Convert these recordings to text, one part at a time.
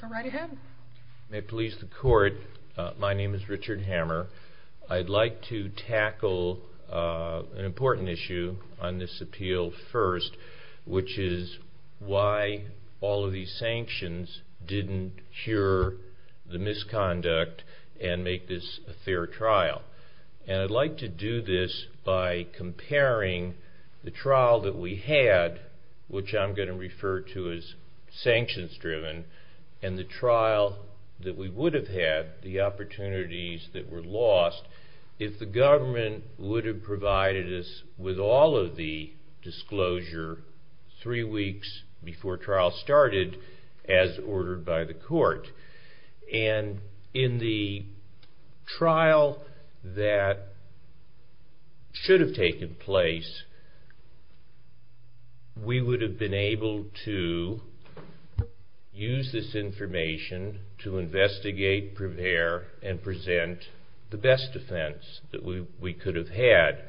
Go right ahead. May it please the court, my name is Richard Hammer. I'd like to tackle an important issue on this appeal first, which is why all of these sanctions didn't cure the misconduct and make this a fair trial. And I'd like to do this by comparing the trial that we had, which I'm going to refer to as the sanctions-driven, and the trial that we would have had, the opportunities that were lost, if the government would have provided us with all of the disclosure three weeks before trial started as ordered by the court. And in the trial that should have taken place, we would have been able to use this information to investigate, prepare, and present the best defense that we could have had.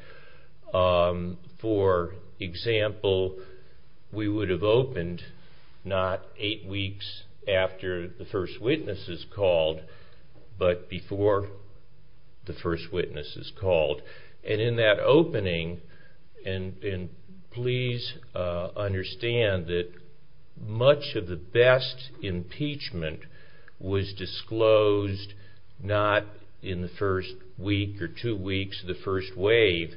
For example, we would have opened not eight weeks after the first witness is called, but before the first witness is called. And in that opening, and please understand that much of the best impeachment was disclosed not in the first week or two weeks of the first wave,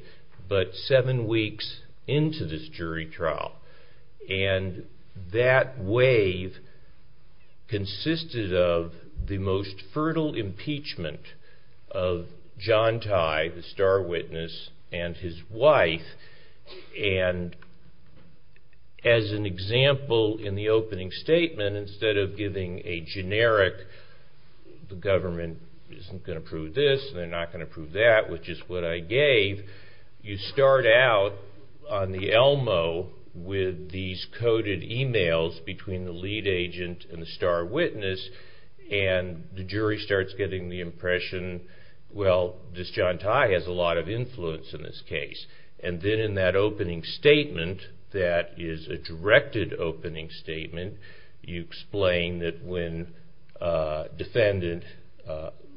but seven weeks into this jury trial. And that wave consisted of the most fertile impeachment of John Tye, the star witness, and his wife. And as an example in the opening statement, instead of giving a generic, the government isn't going to prove this, they're not going to prove that, which is what I gave, you start out on the Elmo with these coded emails between the lead agent and the star witness, and the jury starts getting the impression, well, this John Tye has a lot of influence in this case. And then in that opening statement, that is a directed opening statement, you explain that when defendant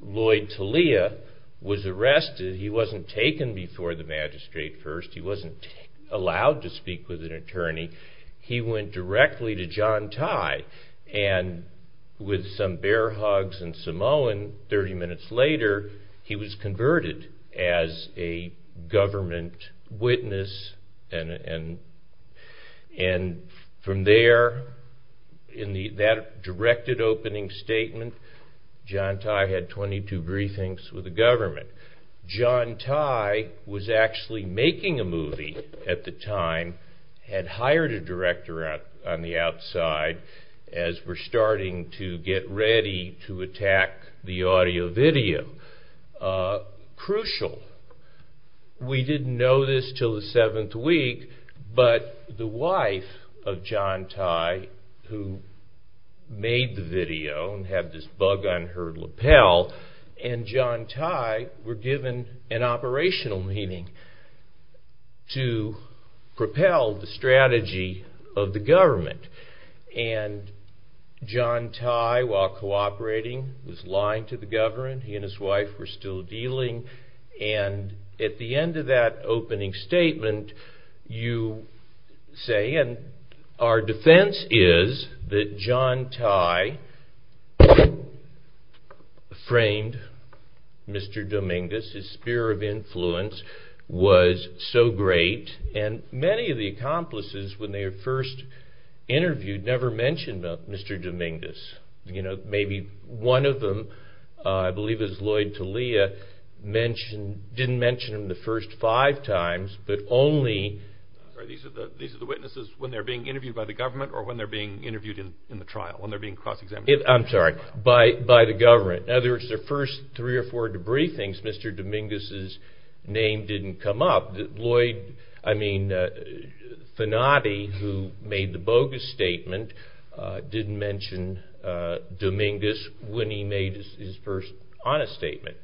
Lloyd Talia was arrested, he wasn't taken before the magistrate first, he wasn't allowed to speak with an attorney, he went directly to John Tye. And with some bear hugs and Samoan, 30 minutes later, he was converted as a government witness. And from there, in that directed opening statement, John Tye had 22 briefings with the government. John Tye was actually making a movie at the time, had hired a director on the outside, as we're starting to get ready to attack the audio video. Crucial, we didn't know this until the seventh week, but the wife of John Tye, who made the video and had this bug on her lapel, and John Tye were given an operational meeting to propel the strategy of the government. And John Tye, while cooperating, was lying to the government. He and his wife were still dealing. And at the end of that opening statement, you say, and our defense is that John Tye framed Mr. Dominguez, his spear of influence, was so great, and many of the accomplices, when they were first interviewed, never mentioned Mr. Dominguez. Maybe one of them, I believe it was Lloyd Talia, didn't mention him the first five times, but only... didn't mention Dominguez when he made his first honest statement.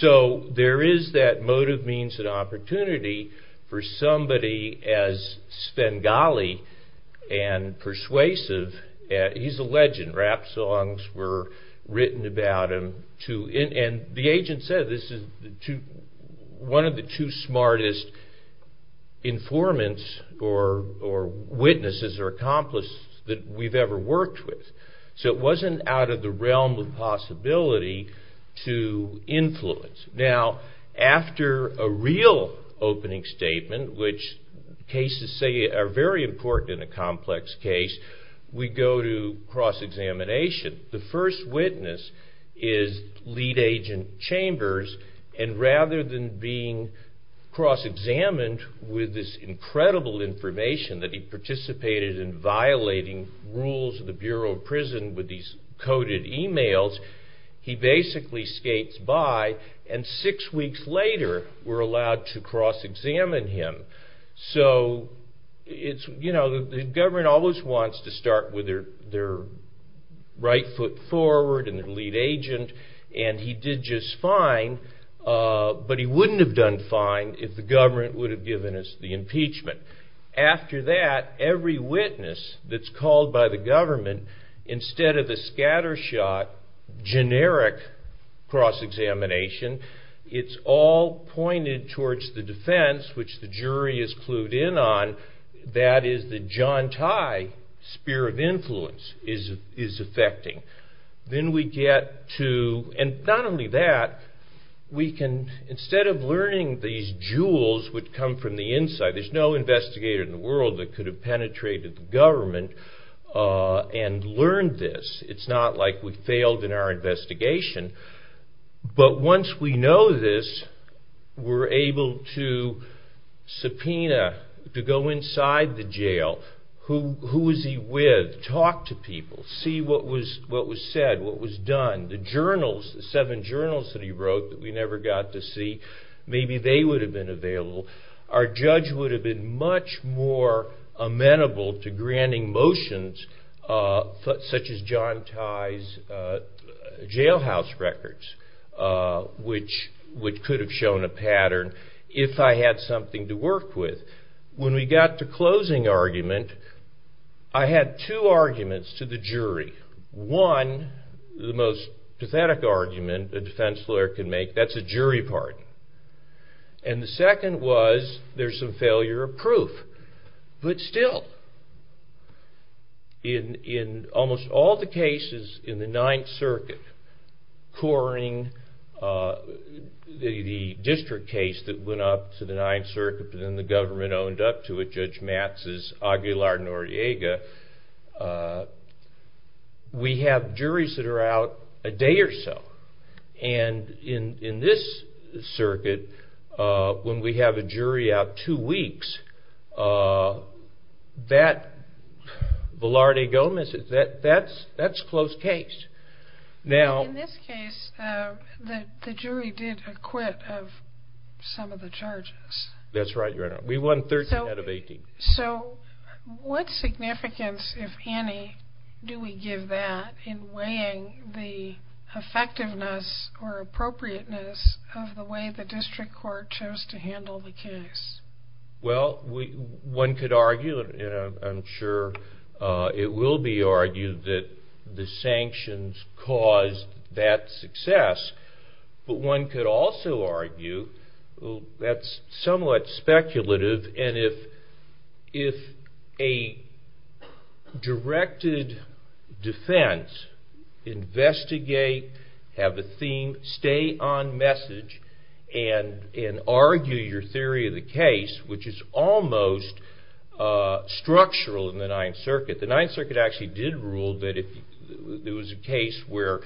So there is that motive, means, and opportunity for somebody as Spengali and persuasive. He's a legend. Rap songs were written about him, and the agent said this is one of the two smartest informants or witnesses or accomplices that we've ever worked with. So it wasn't out of the realm of possibility to influence. Now, after a real opening statement, which cases say are very important in a complex case, we go to cross-examination. The first witness is Lead Agent Chambers, and rather than being cross-examined with this incredible information that he participated in violating rules of the Bureau of Prison with these coded emails, he basically skates by, and six weeks later, we're allowed to cross-examine him. So, you know, the government always wants to start with their right foot forward and their lead agent, and he did just fine, but he wouldn't have done fine if the government would have given us the impeachment. After that, every witness that's called by the government, instead of the scattershot, generic cross-examination, it's all pointed towards the defense, which the jury is clued in on, that is the John Ty spear of influence is affecting. Then we get to, and not only that, we can, instead of learning these jewels which come from the inside, there's no investigator in the world that could have penetrated the government and learned this. It's not like we failed in our investigation, but once we know this, we're able to subpoena, to go inside the jail. Who was he with? Talk to people. See what was said, what was done. The journals, the seven journals that he wrote that we never got to see, maybe they would have been available. Our judge would have been much more amenable to granting motions such as John Ty's jailhouse records, which could have shown a pattern if I had something to work with. When we got to closing argument, I had two arguments to the jury. One, the most pathetic argument a defense lawyer can make, that's a jury pardon. And the second was, there's some failure of proof. But still, in almost all the cases in the Ninth Circuit, coring the district case that went up to the Ninth Circuit, but then the government owned up to it, Judge Matz's Aguilar-Nordiega, we have juries that are out a day or so. And in this circuit, when we have a jury out two weeks, that's close case. In this case, the jury did acquit of some of the charges. That's right, Your Honor. We won 13 out of 18. So, what significance, if any, do we give that in weighing the effectiveness or appropriateness of the way the district court chose to handle the case? Well, one could argue, and I'm sure it will be argued, that the sanctions caused that success. But one could also argue, that's somewhat speculative, and if a directed defense investigate, have a theme, stay on message, and argue your theory of the case, which is almost structural in the Ninth Circuit. The Ninth Circuit actually did rule that if there was a case where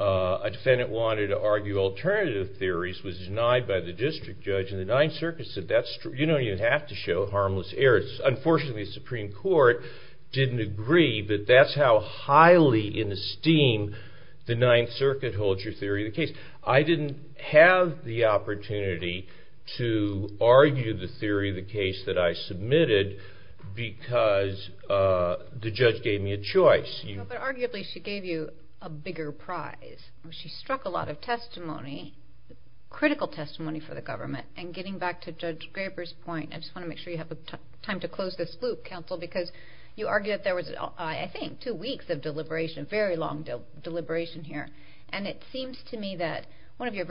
a defendant wanted to argue alternative theories, was denied by the district judge, and the Ninth Circuit said, you don't even have to show harmless errors. Unfortunately, the Supreme Court didn't agree, but that's how highly in esteem the Ninth Circuit holds your theory of the case. I didn't have the opportunity to argue the theory of the case that I submitted, because the judge gave me a choice. But arguably, she gave you a bigger prize. She struck a lot of testimony, critical testimony for the government. And getting back to Judge Graber's point, I just want to make sure you have time to close this loop, counsel, because you argue that there was, I think, two weeks of deliberation, very long deliberation here. And it seems to me that one of your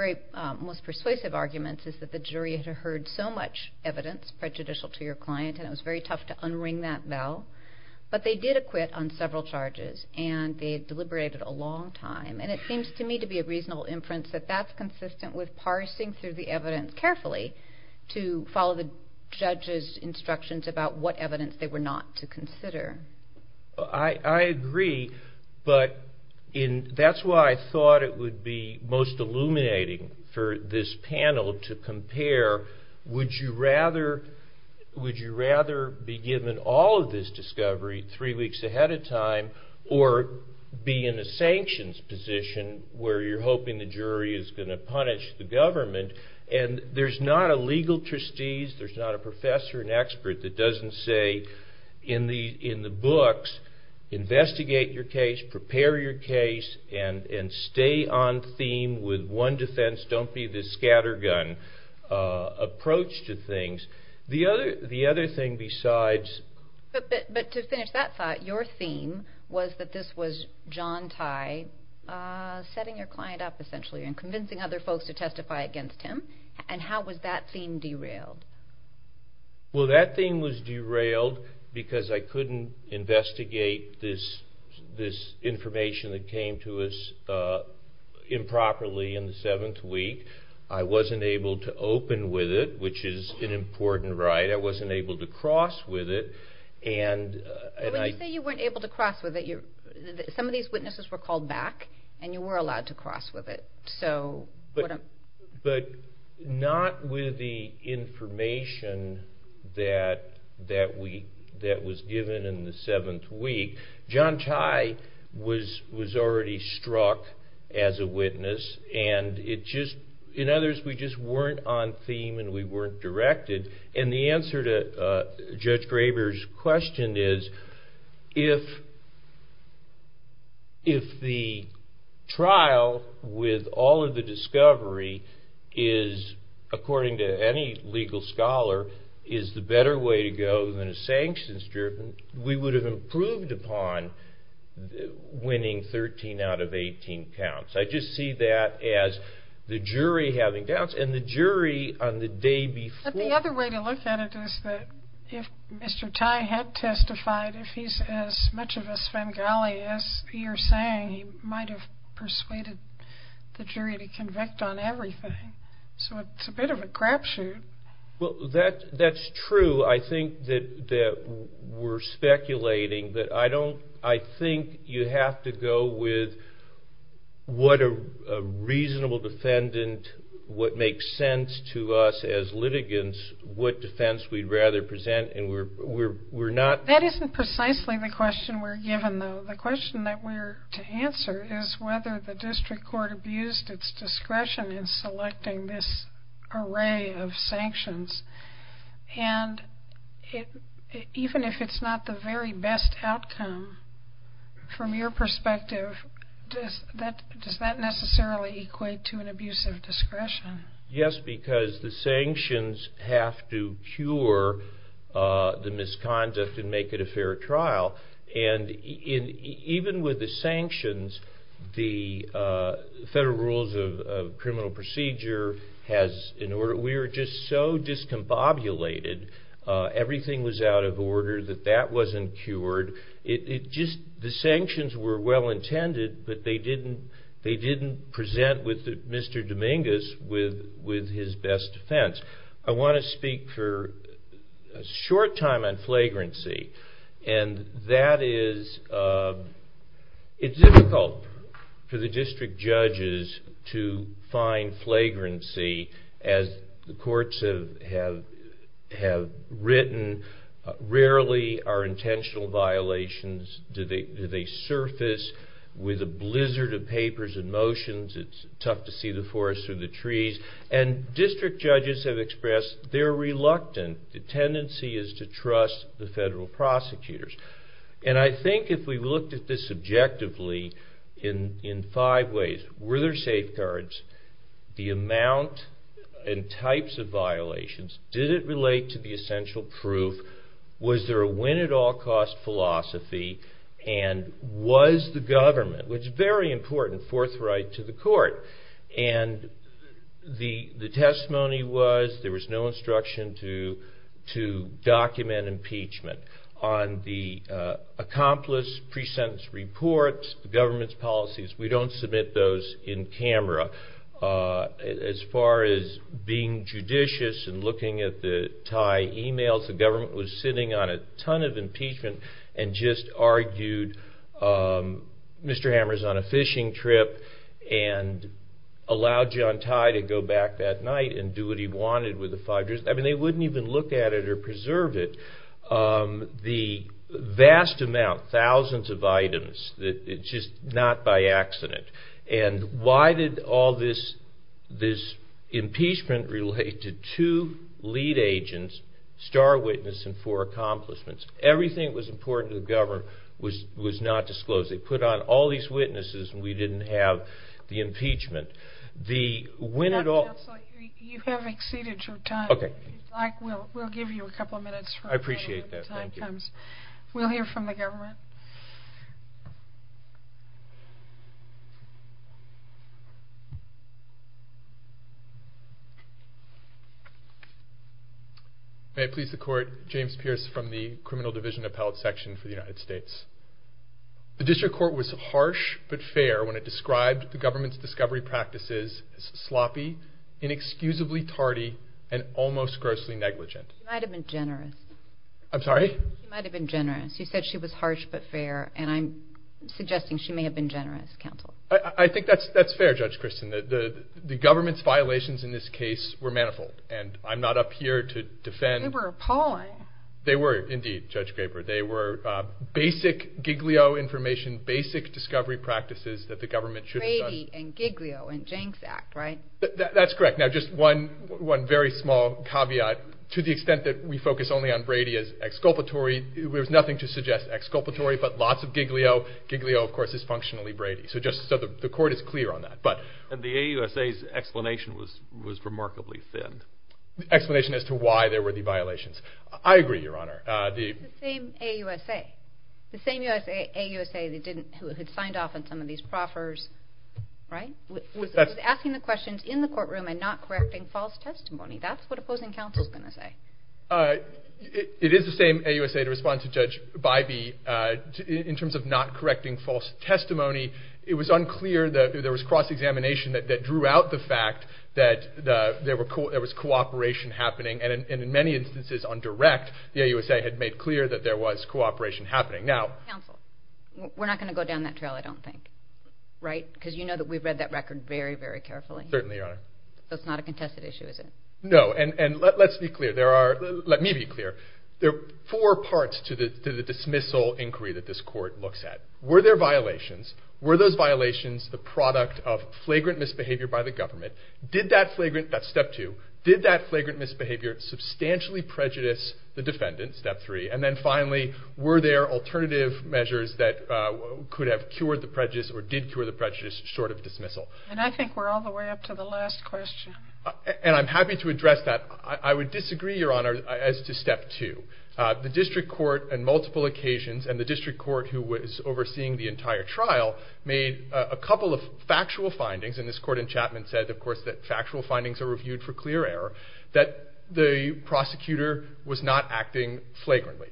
most persuasive arguments is that the jury had heard so much evidence prejudicial to your client, and it was very tough to unring that bell. But they did acquit on several charges, and they deliberated a long time. And it seems to me to be a reasonable inference that that's consistent with parsing through the evidence carefully to follow the judge's instructions about what evidence they were not to consider. I agree, but that's why I thought it would be most illuminating for this panel to compare. Would you rather be given all of this discovery three weeks ahead of time, or be in a sanctions position where you're hoping the jury is going to punish the government? And there's not a legal trustees, there's not a professor, an expert that doesn't say in the books, investigate your case, prepare your case, and stay on theme with one defense, don't be the scattergun approach to things. But to finish that thought, your theme was that this was John Tye setting your client up, essentially, and convincing other folks to testify against him. And how was that theme derailed? Well, that theme was derailed because I couldn't investigate this information that came to us improperly in the seventh week. I wasn't able to open with it, which is an important right. I wasn't able to cross with it. When you say you weren't able to cross with it, some of these witnesses were called back, and you were allowed to cross with it. But not with the information that was given in the seventh week. John Tye was already struck as a witness, and in other words, we just weren't on theme and we weren't directed. And the answer to Judge Graber's question is, if the trial with all of the discovery is, according to any legal scholar, is the better way to go than a sanctions-driven, we would have improved upon winning 13 out of 18 counts. I just see that as the jury having doubts. But the other way to look at it is that if Mr. Tye had testified, if he's as much of a Svengali as you're saying, he might have persuaded the jury to convict on everything. So it's a bit of a crapshoot. Well, that's true. I think that we're speculating. I think you have to go with what a reasonable defendant, what makes sense to us as litigants, what defense we'd rather present. That isn't precisely the question we're given, though. The question that we're to answer is whether the district court abused its discretion in selecting this array of sanctions. And even if it's not the very best outcome, from your perspective, does that necessarily equate to an abuse of discretion? Yes, because the sanctions have to cure the misconduct and make it a fair trial. And even with the sanctions, the Federal Rules of Criminal Procedure, we were just so discombobulated, everything was out of order that that wasn't cured. The sanctions were well intended, but they didn't present Mr. Dominguez with his best defense. I want to speak for a short time on flagrancy. It's difficult for the district judges to find flagrancy. As the courts have written, rarely are intentional violations, do they surface with a blizzard of papers and motions? It's tough to see the forest through the trees. And district judges have expressed they're reluctant. The tendency is to trust the federal prosecutors. And I think if we looked at this objectively in five ways, were there safeguards? The amount and types of violations? Did it relate to the essential proof? Was there a win-at-all-cost philosophy? And was the government, which is very important, forthright to the court? And the testimony was there was no instruction to document impeachment. On the accomplice pre-sentence reports, the government's policies, we don't submit those in camera. As far as being judicious and looking at the Thai emails, the government was sitting on a ton of impeachment and just argued Mr. Hammer's on a fishing trip and allowed John Thai to go back that night and do what he wanted. I mean they wouldn't even look at it or preserve it. The vast amount, thousands of items, just not by accident. And why did all this impeachment relate to two lead agents, star witness, and four accomplishments? Everything that was important to the government was not disclosed. They put on all these witnesses and we didn't have the impeachment. You have exceeded your time. We'll give you a couple minutes. I appreciate that. We'll hear from the government. May it please the court, James Pierce from the criminal division appellate section for the United States. The district court was harsh but fair when it described the government's discovery practices as sloppy, inexcusably tardy, and almost grossly negligent. She might have been generous. I'm sorry? She might have been generous. You said she was harsh but fair and I'm suggesting she may have been generous, counsel. I think that's fair, Judge Kristen. The government's violations in this case were manifold and I'm not up here to defend. They were appalling. They were indeed, Judge Graber. They were basic Giglio information, basic discovery practices that the government should have done. Brady and Giglio and Jenks Act, right? That's correct. Now, just one very small caveat. To the extent that we focus only on Brady as exculpatory, there's nothing to suggest exculpatory but lots of Giglio. Giglio, of course, is functionally Brady. So the court is clear on that. And the AUSA's explanation was remarkably thin. Explanation as to why there were the violations. I agree, Your Honor. The same AUSA. The same AUSA who had signed off on some of these proffers, right? Was asking the questions in the courtroom and not correcting false testimony. That's what opposing counsel is going to say. It is the same AUSA to respond to Judge Bybee. In terms of not correcting false testimony, it was unclear that there was cross-examination that drew out the fact that there was cooperation happening. And in many instances on direct, the AUSA had made clear that there was cooperation happening. Counsel, we're not going to go down that trail, I don't think, right? Because you know that we've read that record very, very carefully. Certainly, Your Honor. So it's not a contested issue, is it? No, and let's be clear. Let me be clear. There are four parts to the dismissal inquiry that this court looks at. Were there violations? Were those violations the product of flagrant misbehavior by the government? Did that flagrant, that's step two, did that flagrant misbehavior substantially prejudice the defendant, step three? And then finally, were there alternative measures that could have cured the prejudice or did cure the prejudice short of dismissal? And I think we're all the way up to the last question. And I'm happy to address that. I would disagree, Your Honor, as to step two. The district court on multiple occasions and the district court who was overseeing the entire trial made a couple of factual findings, and this court in Chapman said, of course, that factual findings are reviewed for clear error, that the prosecutor was not acting flagrantly.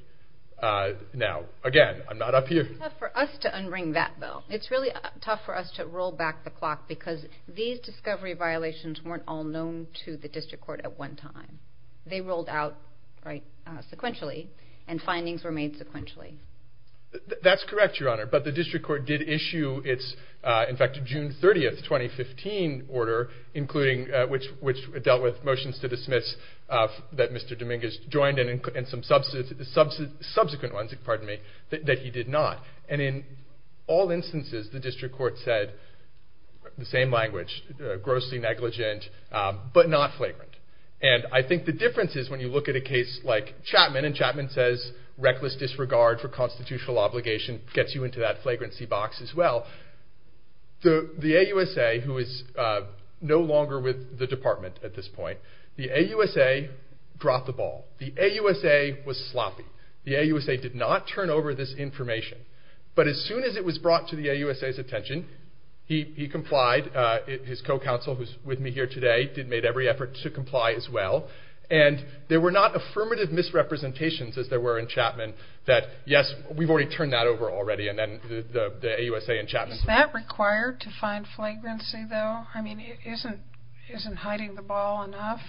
Now, again, I'm not up here. It's tough for us to unring that bell. It's really tough for us to roll back the clock because these discovery violations weren't all known to the district court at one time. They rolled out sequentially, and findings were made sequentially. That's correct, Your Honor. But the district court did issue its, in fact, June 30, 2015 order, which dealt with motions to dismiss that Mr. Dominguez joined and some subsequent ones that he did not. And in all instances, the district court said the same language, grossly negligent but not flagrant. And I think the difference is when you look at a case like Chapman, and Chapman says reckless disregard for constitutional obligation gets you into that flagrancy box as well. The AUSA, who is no longer with the department at this point, the AUSA dropped the ball. The AUSA was sloppy. The AUSA did not turn over this information. But as soon as it was brought to the AUSA's attention, he complied. His co-counsel, who's with me here today, made every effort to comply as well. And there were not affirmative misrepresentations, as there were in Chapman, that, yes, we've already turned that over already, and then the AUSA and Chapman... Is that required to find flagrancy, though? I mean, isn't hiding the ball enough?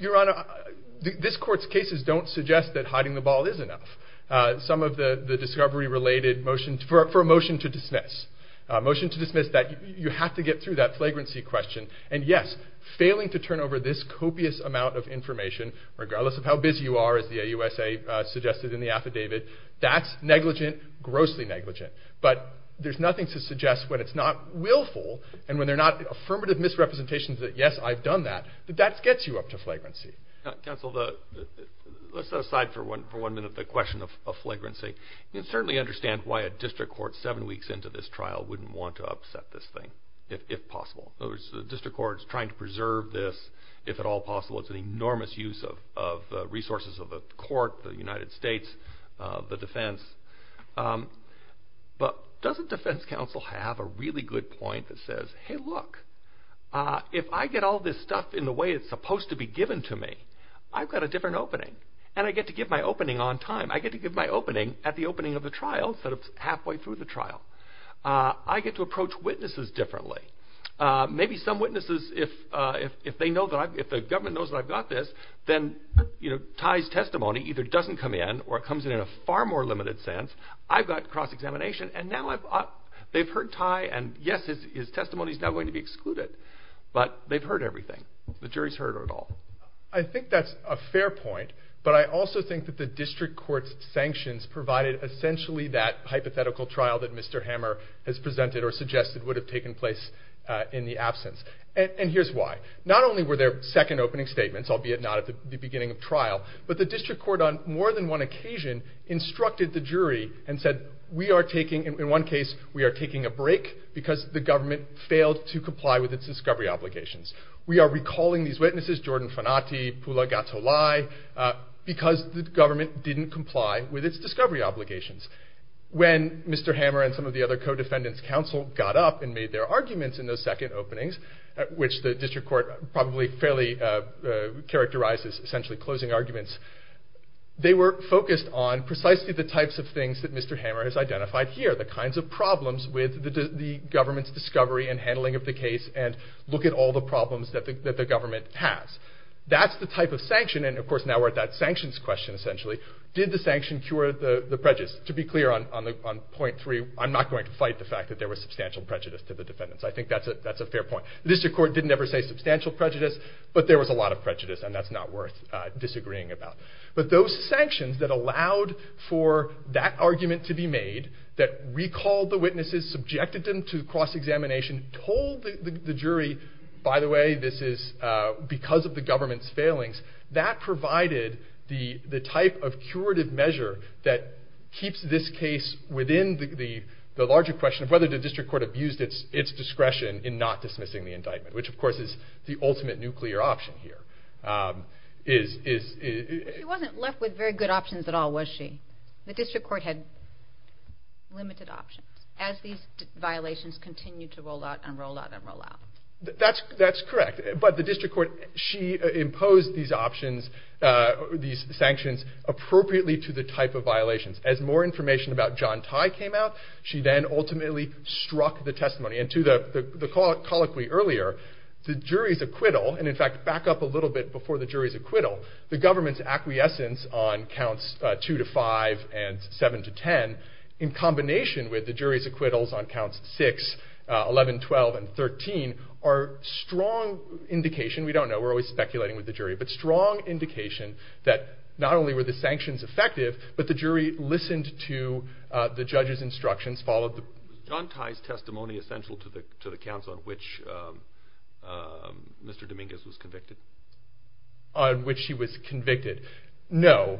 Your Honor, this court's cases don't suggest that hiding the ball is enough. Motion to dismiss that you have to get through that flagrancy question. And, yes, failing to turn over this copious amount of information, regardless of how busy you are, as the AUSA suggested in the affidavit, that's negligent, grossly negligent. But there's nothing to suggest when it's not willful and when there are not affirmative misrepresentations that, yes, I've done that, that that gets you up to flagrancy. Counsel, let's set aside for one minute the question of flagrancy. You can certainly understand why a district court seven weeks into this trial wouldn't want to upset this thing, if possible. The district court's trying to preserve this, if at all possible. It's an enormous use of resources of the court, the United States, the defense. But doesn't defense counsel have a really good point that says, hey, look, if I get all this stuff in the way it's supposed to be given to me, I've got a different opening, and I get to give my opening on time. I get to give my opening at the opening of the trial instead of halfway through the trial. I get to approach witnesses differently. Maybe some witnesses, if they know that I've, if the government knows that I've got this, then, you know, Ty's testimony either doesn't come in or it comes in in a far more limited sense. I've got cross-examination, and now I've, they've heard Ty, and yes, his testimony is now going to be excluded. But they've heard everything. The jury's heard it all. I think that's a fair point. But I also think that the district court's sanctions provided essentially that hypothetical trial that Mr. Hammer has presented or suggested would have taken place in the absence. And here's why. Not only were there second opening statements, albeit not at the beginning of trial, but the district court on more than one occasion instructed the jury and said, we are taking, in one case, we are taking a break because the government failed to comply with its discovery obligations. We are recalling these witnesses, Jordan Fanati, Pula Gatolai, because the government didn't comply with its discovery obligations. When Mr. Hammer and some of the other co-defendants' counsel got up and made their arguments in those second openings, which the district court probably fairly characterized as essentially closing arguments, they were focused on precisely the types of things that Mr. Hammer has identified here, the kinds of problems with the government's discovery and handling of the case and look at all the problems that the government has. That's the type of sanction, and of course now we're at that sanctions question essentially. Did the sanction cure the prejudice? To be clear on point three, I'm not going to fight the fact that there was substantial prejudice to the defendants. I think that's a fair point. The district court didn't ever say substantial prejudice, but there was a lot of prejudice, and that's not worth disagreeing about. But those sanctions that allowed for that argument to be made, that recalled the witnesses, subjected them to cross-examination, told the jury, by the way, this is because of the government's failings, that provided the type of curative measure that keeps this case within the larger question of whether the district court abused its discretion in not dismissing the indictment, which of course is the ultimate nuclear option here. She wasn't left with very good options at all, was she? The district court had limited options as these violations continued to roll out and roll out and roll out. That's correct, but the district court, she imposed these options, these sanctions, appropriately to the type of violations. As more information about John Tye came out, she then ultimately struck the testimony. And to the colloquy earlier, the jury's acquittal, and in fact back up a little bit before the jury's acquittal, the government's acquiescence on counts 2 to 5 and 7 to 10, in combination with the jury's acquittals on counts 6, 11, 12, and 13, are strong indication, we don't know, we're always speculating with the jury, but strong indication that not only were the sanctions effective, but the jury listened to the judge's instructions, followed the- John Tye's testimony essential to the counts on which Mr. Dominguez was convicted? On which he was convicted? No.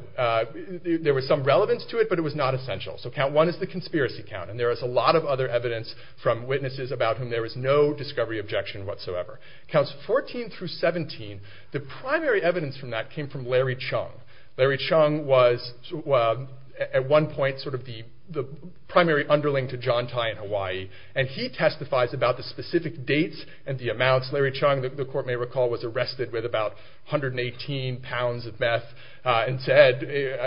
There was some relevance to it, but it was not essential. So count 1 is the conspiracy count, and there is a lot of other evidence from witnesses about whom there is no discovery objection whatsoever. Counts 14 through 17, the primary evidence from that came from Larry Chung. Larry Chung was, at one point, sort of the primary underling to John Tye in Hawaii, Larry Chung, the court may recall, was arrested with about 118 pounds of meth and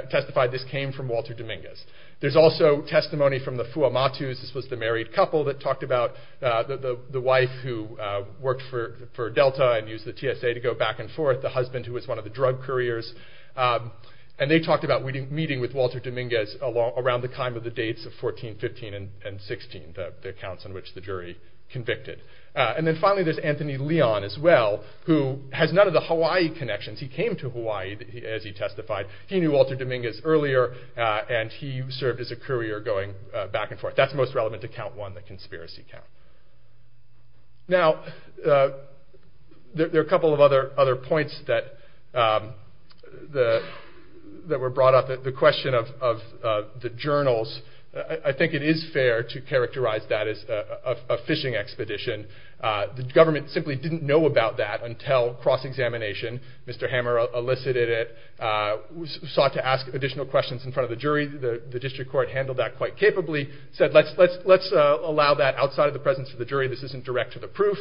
testified this came from Walter Dominguez. There's also testimony from the Fuamatus, this was the married couple that talked about the wife who worked for Delta and used the TSA to go back and forth, the husband who was one of the drug couriers, and they talked about meeting with Walter Dominguez around the time of the dates of 14, 15, and 16, the counts on which the jury convicted. And then finally there's Anthony Leon as well, who has none of the Hawaii connections, he came to Hawaii as he testified, he knew Walter Dominguez earlier, and he served as a courier going back and forth. That's most relevant to count 1, the conspiracy count. Now, there are a couple of other points that were brought up, the question of the journals, I think it is fair to characterize that as a phishing expedition. The government simply didn't know about that until cross-examination, Mr. Hammer elicited it, sought to ask additional questions in front of the jury, the district court handled that quite capably, said let's allow that outside of the presence of the jury, this isn't direct to the proof,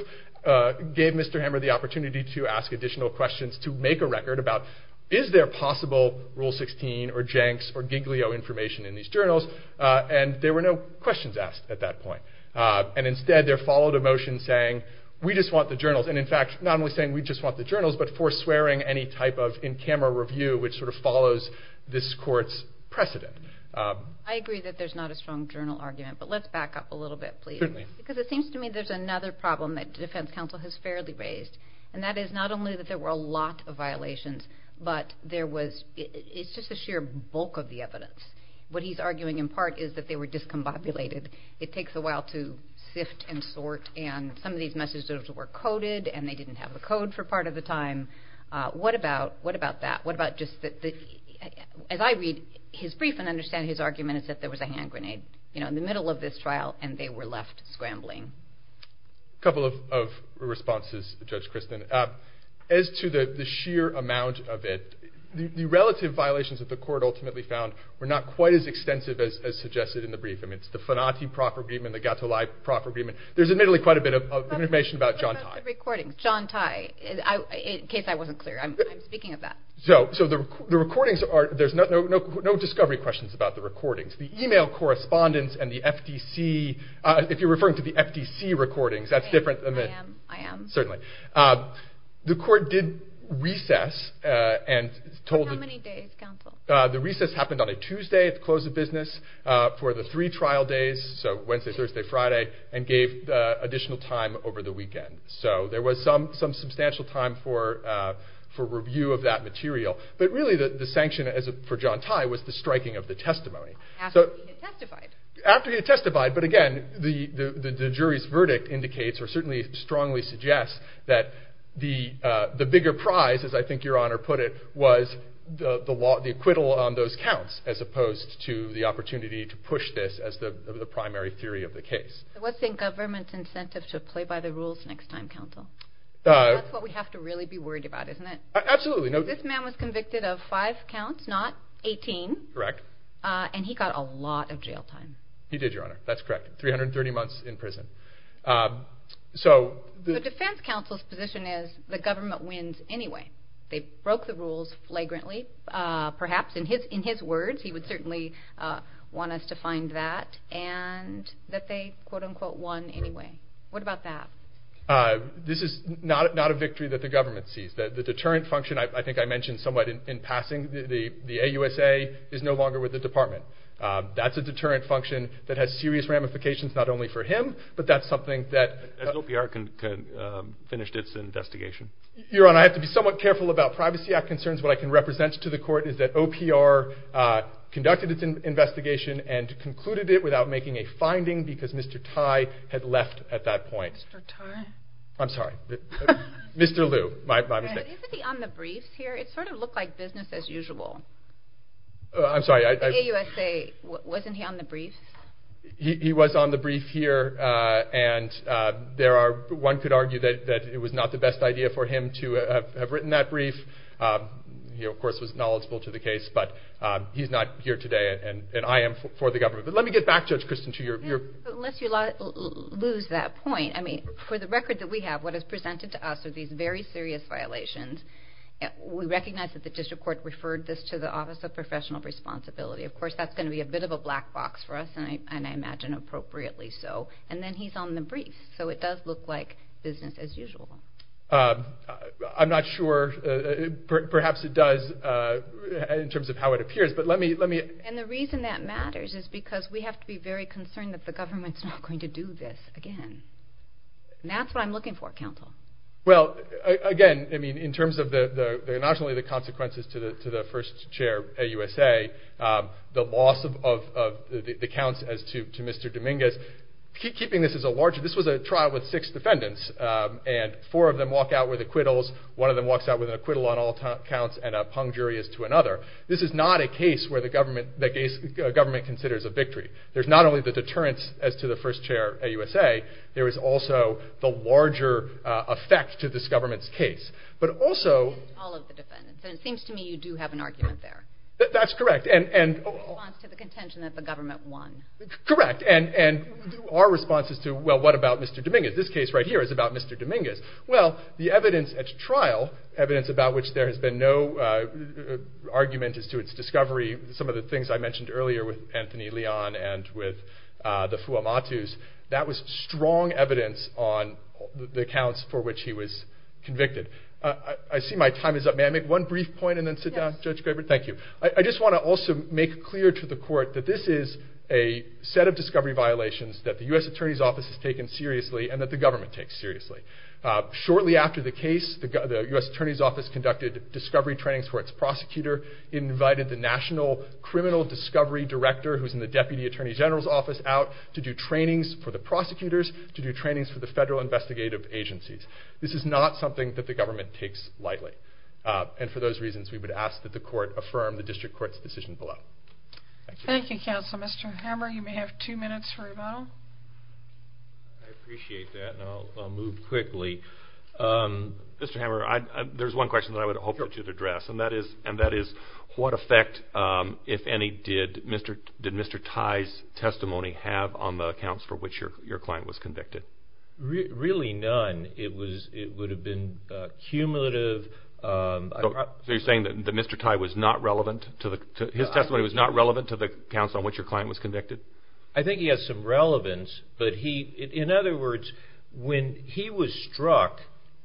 gave Mr. Hammer the opportunity to ask additional questions to make a record about is there possible Rule 16 or Jenks or Giglio information in these journals, and there were no questions asked at that point. And instead there followed a motion saying we just want the journals, and in fact not only saying we just want the journals, but for swearing any type of in-camera review which sort of follows this court's precedent. I agree that there's not a strong journal argument, but let's back up a little bit please. Certainly. Because it seems to me there's another problem that the defense counsel has fairly raised, and that is not only that there were a lot of violations, but there was, it's just a sheer bulk of the evidence. What he's arguing in part is that they were discombobulated. It takes a while to sift and sort, and some of these messages were coded, and they didn't have the code for part of the time. What about that? What about just, as I read his brief and understand his argument is that there was a hand grenade, you know, in the middle of this trial, and they were left scrambling. A couple of responses, Judge Kristen. As to the sheer amount of it, the relative violations that the court ultimately found were not quite as extensive as suggested in the brief. I mean, it's the Fanati proper agreement, the Gatolai proper agreement. There's admittedly quite a bit of information about John Tye. What about the recordings? John Tye, in case I wasn't clear. I'm speaking of that. So the recordings are, there's no discovery questions about the recordings. The email correspondence and the FTC, if you're referring to the FTC recordings, that's different than the... I am, I am. Certainly. The court did recess and told... For how many days, counsel? The recess happened on a Tuesday at the close of business for the three trial days, so Wednesday, Thursday, Friday, and gave additional time over the weekend. So there was some substantial time for review of that material, but really the sanction for John Tye was the striking of the testimony. After he had testified. After he had testified, but again, the jury's verdict indicates or certainly strongly suggests that the bigger prize, as I think your honor put it, was the acquittal on those counts, as opposed to the opportunity to push this as the primary theory of the case. So what's in government's incentive to play by the rules next time, counsel? That's what we have to really be worried about, isn't it? Absolutely. This man was convicted of five counts, not 18. Correct. And he got a lot of jail time. He did, your honor. That's correct. 330 months in prison. So... The defense counsel's position is the government wins anyway. They broke the rules flagrantly, perhaps in his words, he would certainly want us to find that, and that they quote unquote won anyway. What about that? This is not a victory that the government sees. The deterrent function, I think I mentioned somewhat in passing, the AUSA is no longer with the department. That's a deterrent function that has serious ramifications not only for him, but that's something that... Has OPR finished its investigation? Your honor, I have to be somewhat careful about Privacy Act concerns. What I can represent to the court is that OPR conducted its investigation and concluded it without making a finding because Mr. Tai had left at that point. Mr. Tai? I'm sorry. Mr. Liu. My mistake. Isn't he on the briefs here? It sort of looked like business as usual. I'm sorry. The AUSA, wasn't he on the briefs? He was on the brief here, and one could argue that it was not the best idea for him to have written that brief. He, of course, was knowledgeable to the case, but he's not here today and I am for the government. But let me get back, Judge Christin, to your... Unless you lose that point. I mean, for the record that we have, what is presented to us are these very serious violations. We recognize that the district court referred this to the Office of Professional Responsibility. Of course, that's going to be a bit of a black box for us, and I imagine appropriately so. And then he's on the briefs, so it does look like business as usual. I'm not sure. Perhaps it does in terms of how it appears, but let me... And the reason that matters is because we have to be very concerned that the government's not going to do this again. And that's what I'm looking for, counsel. Well, again, in terms of not only the consequences to the first chair at USA, the loss of the counts as to Mr. Dominguez, keeping this as a large... This was a trial with six defendants, and four of them walk out with acquittals, one of them walks out with an acquittal on all counts, and a pung jury is to another. This is not a case where the government considers a victory. There's not only the deterrence as to the first chair at USA, there is also the larger effect to this government's case. But also... All of the defendants. And it seems to me you do have an argument there. That's correct. In response to the contention that the government won. Correct. And our response is to, well, what about Mr. Dominguez? This case right here is about Mr. Dominguez. Well, the evidence at trial, evidence about which there has been no argument as to its discovery, some of the things I mentioned earlier with Anthony Leon and with the Fuamatus, that was strong evidence on the accounts for which he was convicted. I see my time is up. May I make one brief point and then sit down, Judge Graber? Yes. Thank you. I just want to also make clear to the court that this is a set of discovery violations that the U.S. Attorney's Office has taken seriously and that the government takes seriously. Shortly after the case, the U.S. Attorney's Office conducted discovery trainings for its prosecutor, invited the National Criminal Discovery Director, who's in the Deputy Attorney General's Office, out to do trainings for the prosecutors, to do trainings for the federal investigative agencies. This is not something that the government takes lightly. And for those reasons, we would ask that the court affirm the district court's decision below. Thank you. Thank you, Counsel. Mr. Hammer, you may have two minutes for rebuttal. I appreciate that, and I'll move quickly. Mr. Hammer, there's one question that I would hope to address, and that is what effect, if any, did Mr. Tye's testimony have on the accounts for which your client was convicted? Really none. It would have been cumulative. So you're saying that Mr. Tye was not relevant? His testimony was not relevant to the accounts on which your client was convicted? I think he has some relevance. In other words, when he was struck,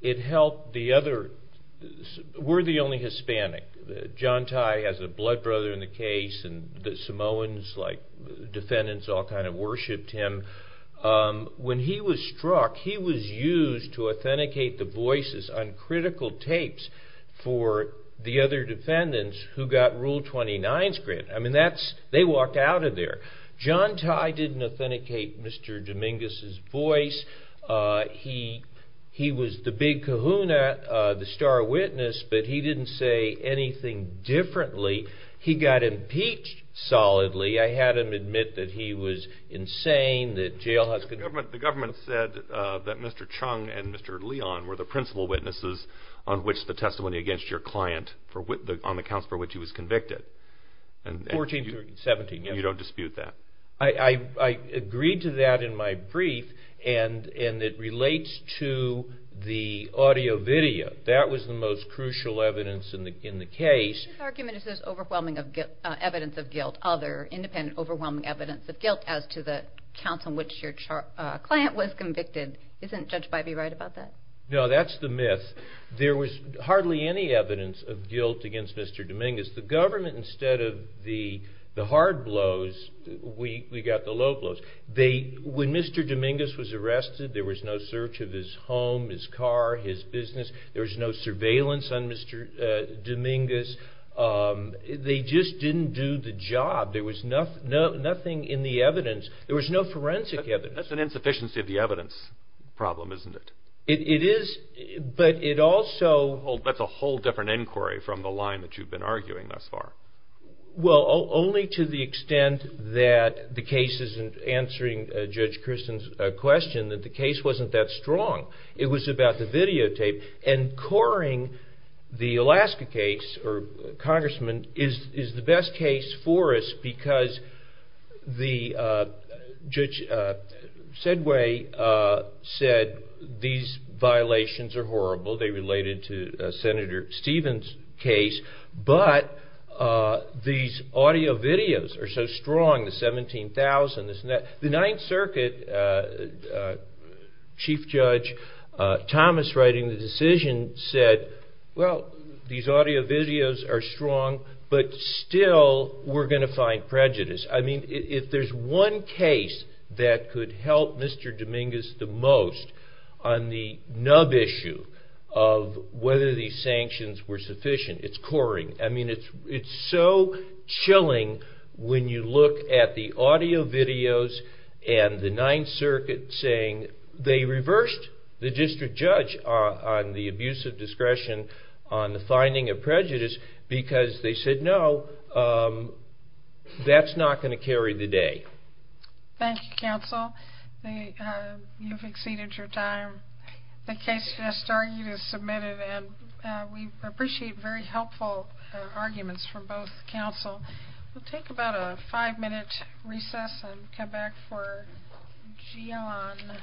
we're the only Hispanic. John Tye has a blood brother in the case, and the Samoans, like defendants, all kind of worshipped him. When he was struck, he was used to authenticate the voices on critical tapes for the other defendants who got Rule 29 script. I mean, they walked out of there. John Tye didn't authenticate Mr. Dominguez's voice. He was the big kahuna, the star witness, but he didn't say anything differently. He got impeached solidly. I had him admit that he was insane. The government said that Mr. Chung and Mr. Leon were the principal witnesses on the accounts for which he was convicted. 14 through 17, yes. And you don't dispute that? I agreed to that in my brief, and it relates to the audio video. That was the most crucial evidence in the case. His argument is there's overwhelming evidence of guilt, other independent overwhelming evidence of guilt, as to the accounts on which your client was convicted. Isn't Judge Bybee right about that? No, that's the myth. There was hardly any evidence of guilt against Mr. Dominguez. The government, instead of the hard blows, we got the low blows. When Mr. Dominguez was arrested, there was no search of his home, his car, his business. There was no surveillance on Mr. Dominguez. They just didn't do the job. There was nothing in the evidence. There was no forensic evidence. That's an insufficiency of the evidence problem, isn't it? It is, but it also— That's a whole different inquiry from the line that you've been arguing thus far. Well, only to the extent that the case isn't answering Judge Christen's question, that the case wasn't that strong. It was about the videotape. And coring the Alaska case, or congressman, is the best case for us because Judge Sedgway said these violations are horrible. They related to Senator Stevens' case. But these audio videos are so strong, the 17,000. The Ninth Circuit, Chief Judge Thomas writing the decision said, well, these audio videos are strong, but still we're going to find prejudice. I mean, if there's one case that could help Mr. Dominguez the most on the nub issue of whether these sanctions were sufficient, it's coring. I mean, it's so chilling when you look at the audio videos and the Ninth Circuit saying they reversed the district judge on the abuse of discretion on the finding of prejudice because they said, no, that's not going to carry the day. Thank you, counsel. You've exceeded your time. The case just argued is submitted, and we appreciate very helpful arguments from both counsel. We'll take about a five-minute recess and come back for Gian.